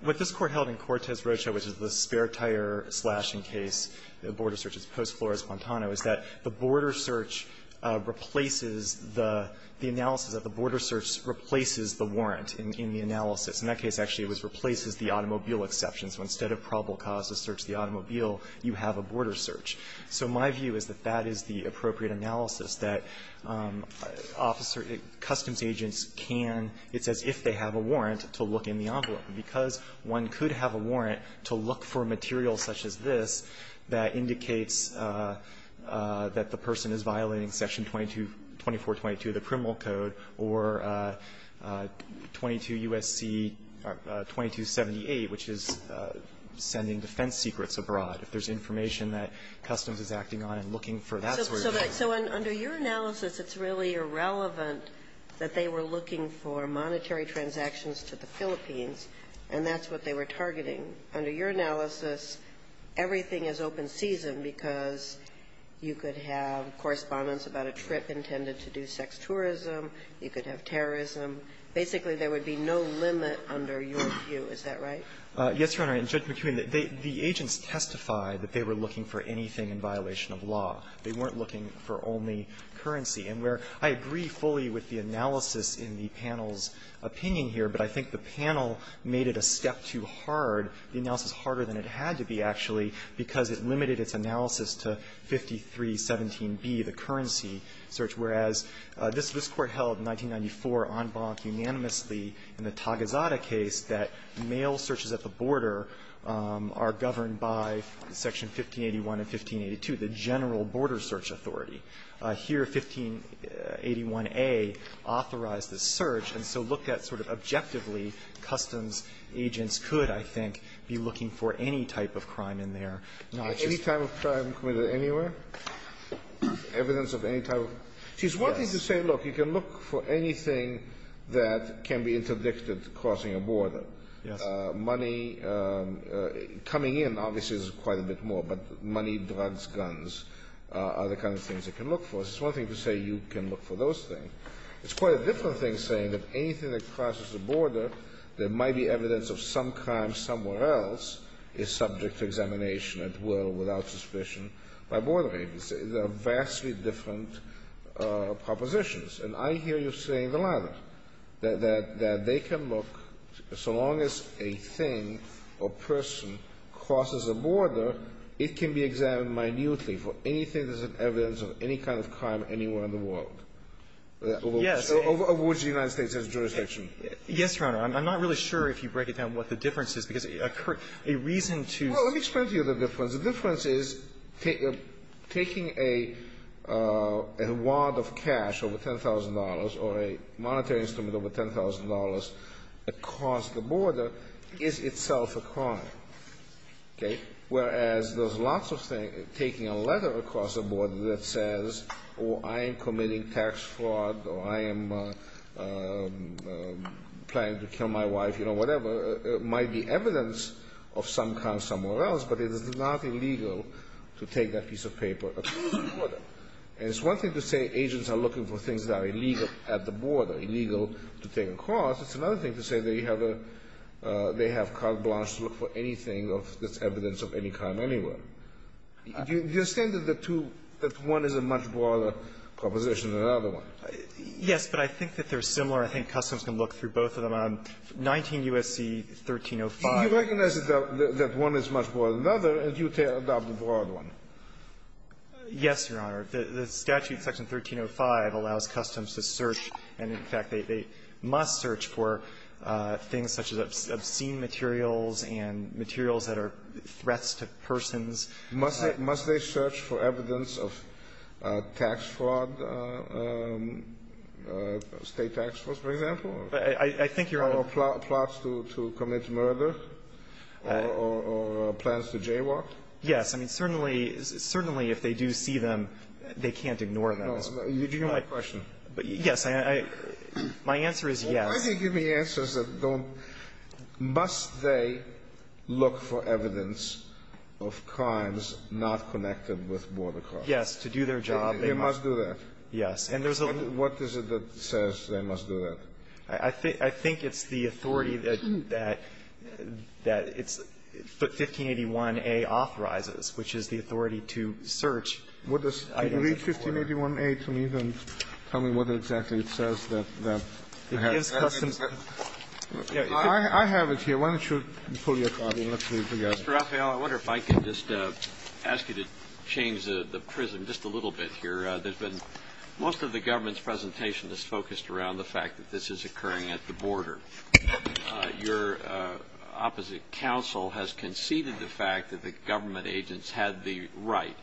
What this Court held in Cortez-Rocha, which is the spare tire slashing case, the border search, it's post Flores-Fontano, is that the border search replaces the analysis that the border search replaces the warrant in the analysis. In that case, actually, it was replaces the automobile exception. So instead of probable cause to search the automobile, you have a border search. So my view is that that is the appropriate analysis, that officer – customs agents can – it's as if they have a warrant to look in the envelope. Because one could have a warrant to look for material such as this that indicates that the person is violating Section 2422 of the Criminal Code or 22 U.S.C. 2278, which is sending defense secrets abroad, if there's information that customs is acting on and looking for that sort of thing. So under your analysis, it's really irrelevant that they were looking for monetary transactions to the Philippines, and that's what they were targeting. Under your analysis, everything is open season because you could have correspondence about a trip intended to do sex tourism, you could have terrorism. Basically, there would be no limit under your view. Is that right? Yes, Your Honor. And, Judge McKeown, the agents testified that they were looking for anything in violation of law. They weren't looking for only currency. And where I agree fully with the analysis in the panel's opinion here, but I think the panel made it a step too hard, the analysis harder than it had to be, actually, because it limited its analysis to 5317B, the currency search, whereas this Court held in 1994 en banc unanimously in the Tagusada case that mail searches at the border are governed by Section 1581 and 1582, the general border search authority. Here, 1581A authorized the search, and so looked at sort of objectively, customs agents could, I think, be looking for any type of crime in their notches. Any type of crime committed anywhere? Evidence of any type of? She's wanting to say, look, you can look for anything that can be interdicted crossing a border. Yes. Money coming in, obviously, is quite a bit more, but money, drugs, guns, other kinds of things they can look for. She's wanting to say you can look for those things. It's quite a different thing saying that anything that crosses the border, there might be evidence of some crime somewhere else is subject to examination at will, without suspicion, by border agents. They're vastly different propositions. And I hear you saying the latter, that they can look, so long as a thing or person crosses a border, it can be examined minutely for anything that's an evidence of any kind of crime anywhere in the world. Yes. Over which the United States has jurisdiction. Yes, Your Honor. I'm not really sure if you break it down what the difference is, because a reason to see the difference. The difference is taking a wad of cash over $10,000 or a monetary instrument over $10,000 across the border is itself a crime. Whereas there's lots of things, taking a letter across the border that says, oh, I am committing tax fraud, or I am planning to kill my wife, you know, whatever, might be evidence of some crime somewhere else. But it is not illegal to take that piece of paper across the border. And it's one thing to say agents are looking for things that are illegal at the border, illegal to take across. It's another thing to say they have a – they have carte blanche to look for anything of this evidence of any crime anywhere. Do you understand that the two – that one is a much broader proposition than the other one? Yes, but I think that they're similar. I think Customs can look through both of them. On 19 U.S.C. 1305 – You recognize that one is much broader than the other, and you adopt the broad one. Yes, Your Honor. The statute, Section 1305, allows Customs to search, and in fact, they must search for things such as obscene materials and materials that are threats to persons. Must they search for evidence of tax fraud, State tax fraud, for example? I think, Your Honor – Or plots to commit murder? Or plans to jaywalk? Yes. I mean, certainly – certainly if they do see them, they can't ignore them. No. You're giving me a question. Yes. I – my answer is yes. Well, why do you give me answers that don't – must they look for evidence of crimes not connected with border crossing? Yes, to do their job, they must. They must do that. Yes. And there's a – What is it that says they must do that? I think it's the authority that – that it's – 1581a authorizes, which is the authority to search items of border. Would you read 1581a to me, then tell me what exactly it says that they have to do that? It gives Customs – I have it here. Why don't you pull your card and let's read together. Mr. Raphael, I wonder if I could just ask you to change the prism just a little bit here. There's been – most of the government's presentation is focused around the fact that this is occurring at the border. Your opposite counsel has conceded the fact that the government agents had the right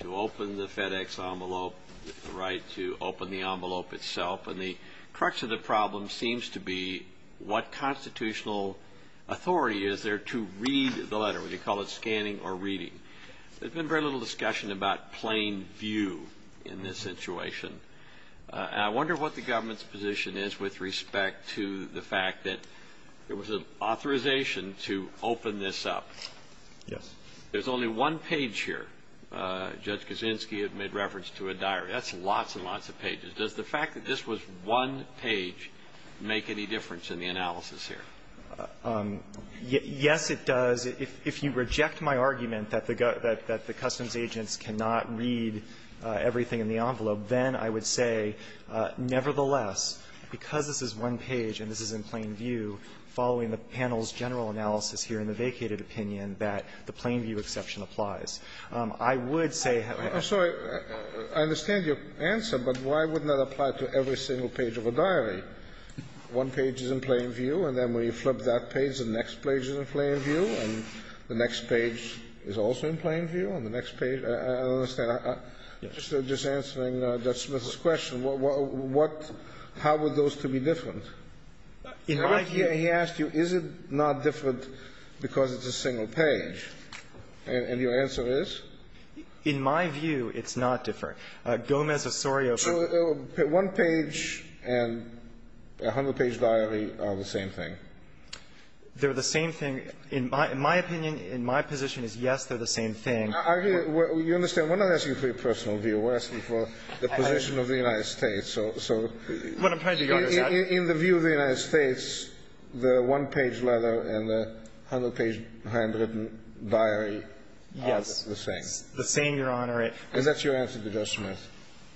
to open the FedEx envelope, the right to open the envelope itself, and the crux of the problem seems to be what constitutional authority is there to read the letter. Would you call it scanning or reading? There's been very little discussion about plain view in this situation. And I wonder what the government's position is with respect to the fact that there was an authorization to open this up. Yes. There's only one page here. Judge Kaczynski had made reference to a diary. That's lots and lots of pages. Does the fact that this was one page make any difference in the analysis here? Yes, it does. If you reject my argument that the customs agents cannot read everything in the envelope, then I would say nevertheless, because this is one page and this is in plain view, following the panel's general analysis here in the vacated opinion, that the plain view exception applies. I would say – I'm sorry. I understand your answer, but why wouldn't that apply to every single page of a diary? One page is in plain view, and then when you flip that page, the next page is in plain view, and the next page is also in plain view, and the next page – I don't understand. Just answering Judge Smith's question, what – how are those to be different? He asked you, is it not different because it's a single page, and your answer is? In my view, it's not different. Gomez Osorio – So one page and a hundred-page diary are the same thing? They're the same thing. In my opinion, in my position, it's yes, they're the same thing. You understand, we're not asking for your personal view. We're asking for the position of the United States. So in the view of the United States, the one-page letter and the hundred-page handwritten diary are the same. Yes. The same, Your Honor. And that's your answer to Judge Smith?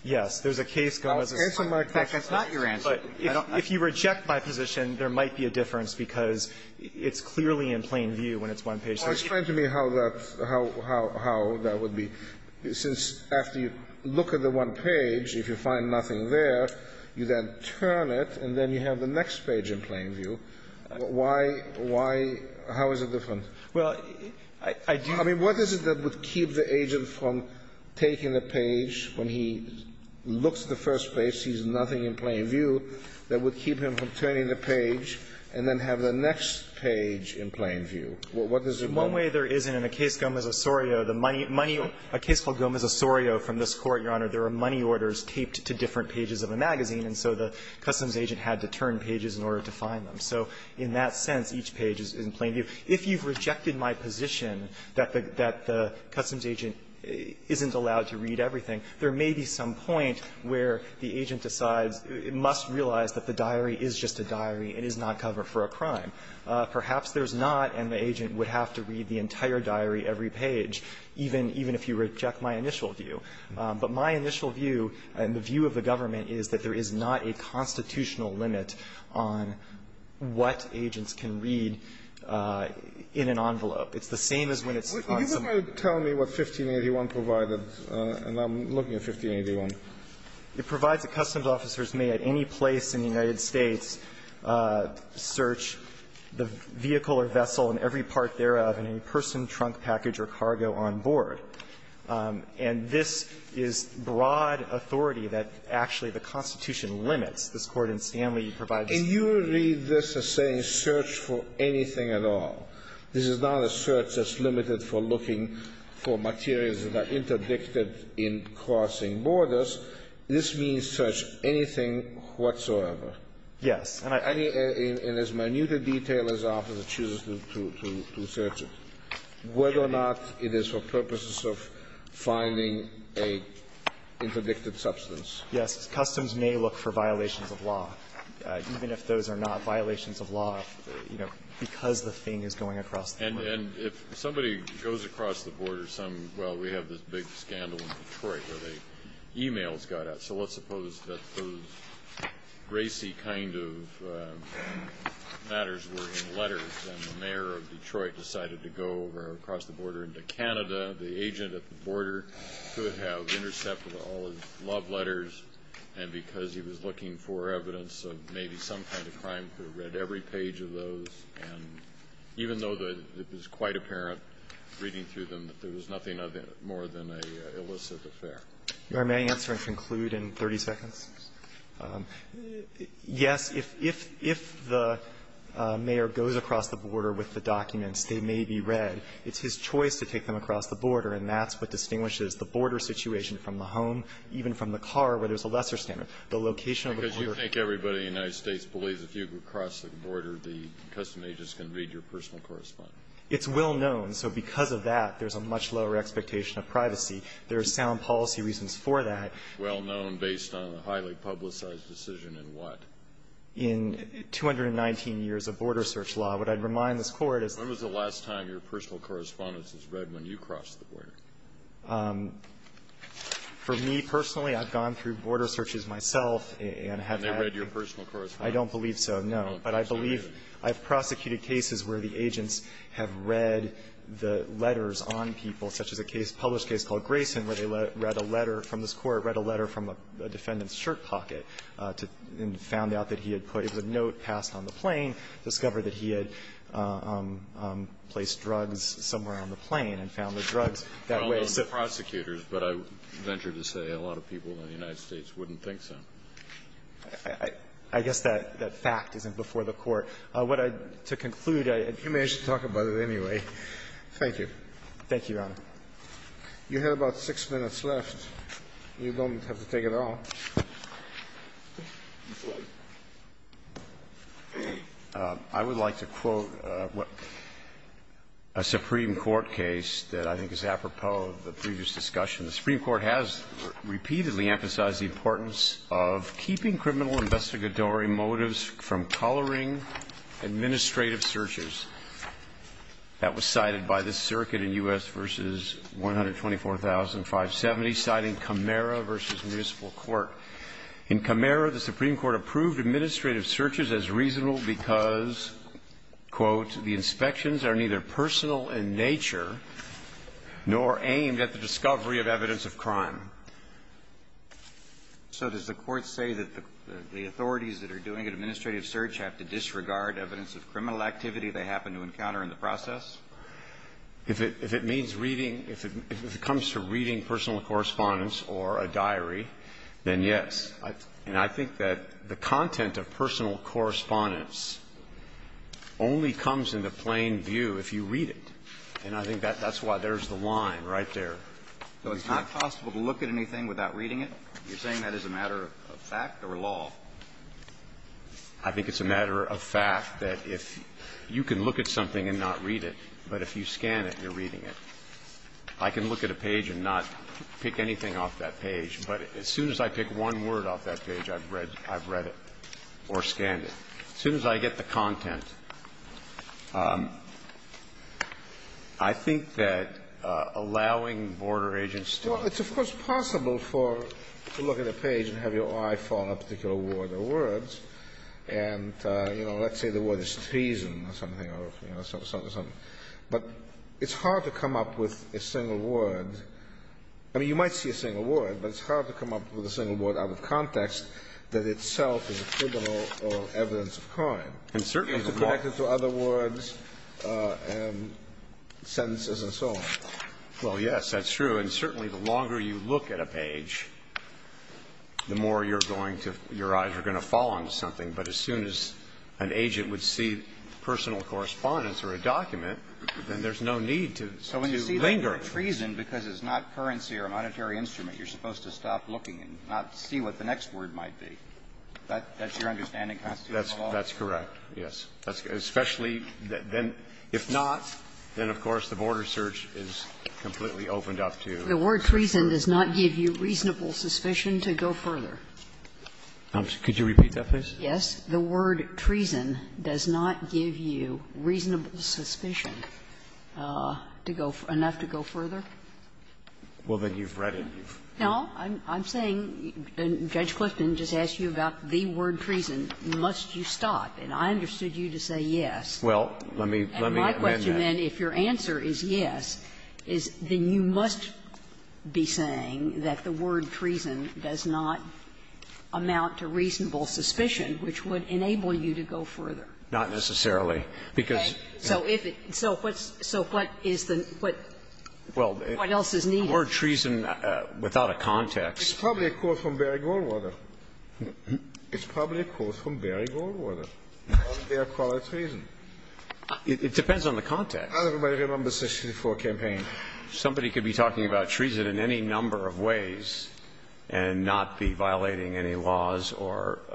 Yes. There's a case going on. Answer my question. That's not your answer. But if you reject my position, there might be a difference, because it's clearly in plain view when it's one page. Well, explain to me how that – how that would be, since after you look at the one page, if you find nothing there, you then turn it, and then you have the next page in plain view. Why – how is it different? Well, I do – I mean, what is it that would keep the agent from taking the page when he looks at the first page, sees nothing in plain view, that would keep him from turning the page and then have the next page in plain view? What does it mean? One way there is in a case, Gomez-Osorio, the money – a case called Gomez-Osorio from this Court, Your Honor, there are money orders taped to different pages of the magazine, and so the customs agent had to turn pages in order to find them. So in that sense, each page is in plain view. If you've rejected my position that the customs agent isn't allowed to read everything, there may be some point where the agent decides – must realize that the diary is just a diary and is not covered for a crime. Perhaps there's not, and the agent would have to read the entire diary every page, even – even if you reject my initial view. But my initial view and the view of the government is that there is not a constitutional limit on what agents can read in an envelope. It's the same as when it's on some other – It provides a – and I'm looking at 1581. It provides that customs officers may, at any place in the United States, search the vehicle or vessel and every part thereof and any person, trunk, package or cargo on board. And this is broad authority that actually the Constitution limits. This Court in Stanley provides the same. Can you read this as saying search for anything at all? This is not a search that's limited for looking for materials that are interdicted in crossing borders. This means search anything whatsoever. Yes. And I – Any – and as minute a detail as the officer chooses to – to search it, whether or not it is for purposes of finding a interdicted substance. Yes. And if somebody goes across the border, some – well, we have this big scandal in Detroit where the emails got out. So let's suppose that those racy kind of matters were in letters and the mayor of Detroit decided to go over across the border into Canada. The agent at the border could have intercepted all his love letters. And because he was looking for evidence of maybe some kind of crime, could have read every page of those. And even though the – it was quite apparent reading through them that there was nothing other – more than an illicit affair. Your Honor, may I answer and conclude in 30 seconds? Yes. If – if the mayor goes across the border with the documents, they may be read. It's his choice to take them across the border, and that's what distinguishes the border situation from the home, even from the car, where there's a lesser standard. The location of the border – If the mayor goes across the border, the custom agent is going to read your personal correspondence. It's well known. So because of that, there's a much lower expectation of privacy. There are sound policy reasons for that. Well known based on a highly publicized decision in what? In 219 years of border search law. What I'd remind this Court is that – When was the last time your personal correspondence was read when you crossed the border? For me personally, I've gone through border searches myself and have had – And they read your personal correspondence? I don't believe so, no. But I believe I've prosecuted cases where the agents have read the letters on people, such as a case, published case called Grayson, where they read a letter from this court, read a letter from a defendant's shirt pocket, and found out that he had put – it was a note passed on the plane, discovered that he had placed drugs somewhere on the plane, and found the drugs that way. Well known to prosecutors, but I venture to say a lot of people in the United States wouldn't think so. I guess that fact isn't before the Court. What I'd – to conclude, I'd – You may as well talk about it anyway. Thank you. Thank you, Your Honor. You have about six minutes left. You don't have to take it all. I would like to quote a Supreme Court case that I think is apropos of the previous discussion. The Supreme Court has repeatedly emphasized the importance of keeping criminal investigatory motives from coloring administrative searches. That was cited by the circuit in U.S. v. 124,570, citing Camara v. Municipal Court. In Camara, the Supreme Court approved administrative searches as reasonable because, quote, the inspections are neither personal in nature nor aimed at the evidence of crime. So does the Court say that the authorities that are doing an administrative search have to disregard evidence of criminal activity they happen to encounter in the process? If it means reading – if it comes to reading personal correspondence or a diary, then yes. And I think that the content of personal correspondence only comes in the plain view if you read it. And I think that's why there's the line right there. So it's not possible to look at anything without reading it? You're saying that is a matter of fact or law? I think it's a matter of fact that if you can look at something and not read it, but if you scan it, you're reading it. I can look at a page and not pick anything off that page, but as soon as I pick one word off that page, I've read it or scanned it. As soon as I get the content, I think that allowing border agents to – Well, it's, of course, possible for – to look at a page and have your eye fall on a particular word or words, and, you know, let's say the word is treason or something, or, you know, something, something, but it's hard to come up with a single word. I mean, you might see a single word, but it's hard to come up with a single word out of context that itself is a criminal or evidence of crime. And certainly the – It's connected to other words and sentences and so on. Well, yes, that's true. And certainly the longer you look at a page, the more you're going to – your eyes are going to fall on something. But as soon as an agent would see personal correspondence or a document, then there's no need to – to linger. So when you see the word treason because it's not currency or a monetary instrument, you're supposed to stop looking and not see what the next word might be. That's your understanding? That's too long? That's correct, yes. Especially then – if not, then, of course, the border search is completely opened up to the source. The word treason does not give you reasonable suspicion to go further. Could you repeat that, please? Yes. The word treason does not give you reasonable suspicion to go – enough to go further. Well, then you've read it. No. I'm saying Judge Clifton just asked you about the word treason. Must you stop? And I understood you to say yes. Well, let me – let me amend that. And my question then, if your answer is yes, is then you must be saying that the word treason does not amount to reasonable suspicion, which would enable you to go further. Not necessarily, because – Okay. So if it – so what's – so what is the – what – Well, the word treason, without a context – It's probably a quote from Barry Goldwater. It's probably a quote from Barry Goldwater on their call of treason. It depends on the context. Everybody remembers the 64 campaign. Somebody could be talking about treason in any number of ways and not be violating any laws or –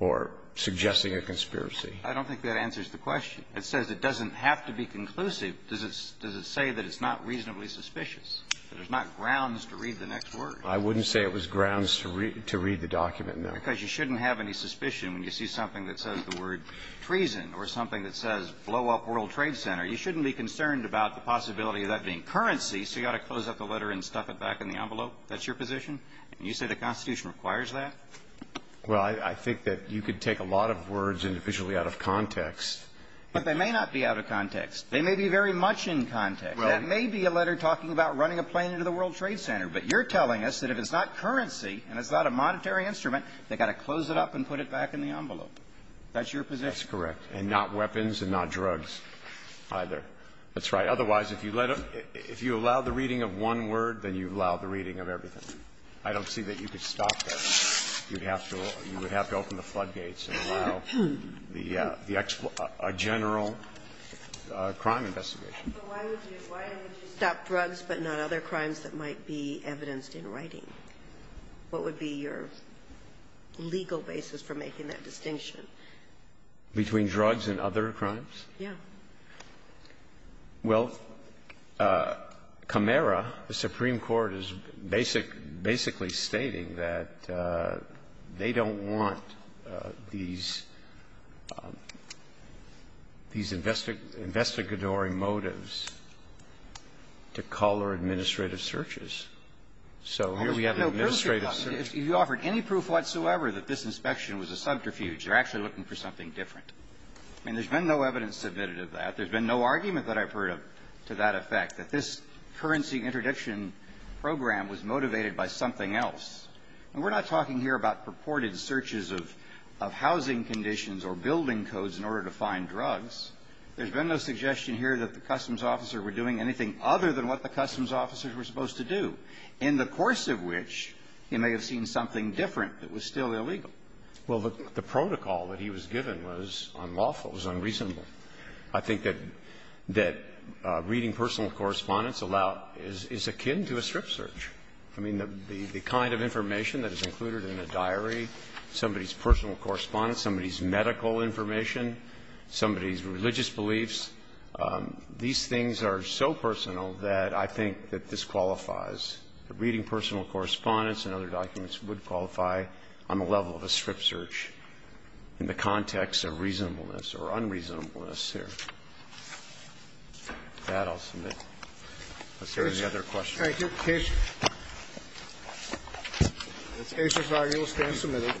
or suggesting a conspiracy. I don't think that answers the question. It says it doesn't have to be conclusive. Does it – does it say that it's not reasonably suspicious, that there's not grounds to read the next word? I wouldn't say it was grounds to read – to read the document, no. Because you shouldn't have any suspicion when you see something that says the word treason or something that says blow up World Trade Center. You shouldn't be concerned about the possibility of that being currency. So you ought to close up the letter and stuff it back in the envelope. That's your position? And you say the Constitution requires that? Well, I – I think that you could take a lot of words individually out of context. But they may not be out of context. They may be very much in context. That may be a letter talking about running a plane into the World Trade Center. But you're telling us that if it's not currency and it's not a monetary instrument, they've got to close it up and put it back in the envelope. That's your position? That's correct. And not weapons and not drugs either. That's right. Otherwise, if you let a – if you allow the reading of one word, then you've allowed the reading of everything. I don't see that you could stop that. You'd have to – you would have to open the floodgates and allow the – a general crime investigation. But why would you – why would you stop drugs but not other crimes that might be evidenced in writing? What would be your legal basis for making that distinction? Between drugs and other crimes? Yeah. Well, Camara, the Supreme Court, is basic – basically stating that they don't want these – these investigatory motives to cull their administrative searches. So here we have an administrative search. If you offered any proof whatsoever that this inspection was a subterfuge, they're actually looking for something different. And there's been no evidence submitted of that. There's been no argument that I've heard of to that effect, that this currency interdiction program was motivated by something else. And we're not talking here about purported searches of – of housing conditions or building codes in order to find drugs. There's been no suggestion here that the customs officer were doing anything other than what the customs officers were supposed to do, in the course of which he may have seen something different that was still illegal. Well, the protocol that he was given was unlawful, was unreasonable. I think that reading personal correspondence is akin to a strip search. I mean, the kind of information that is included in a diary, somebody's personal correspondence, somebody's medical information, somebody's religious beliefs, these things are so personal that I think that this qualifies. Reading personal correspondence and other documents would qualify on the level of a strip search in the context of reasonableness or unreasonableness here. With that, I'll submit. If there are any other questions. Thank you. Case. It's A.C. Foggy. We'll stand submitted. Adjourned. Bye.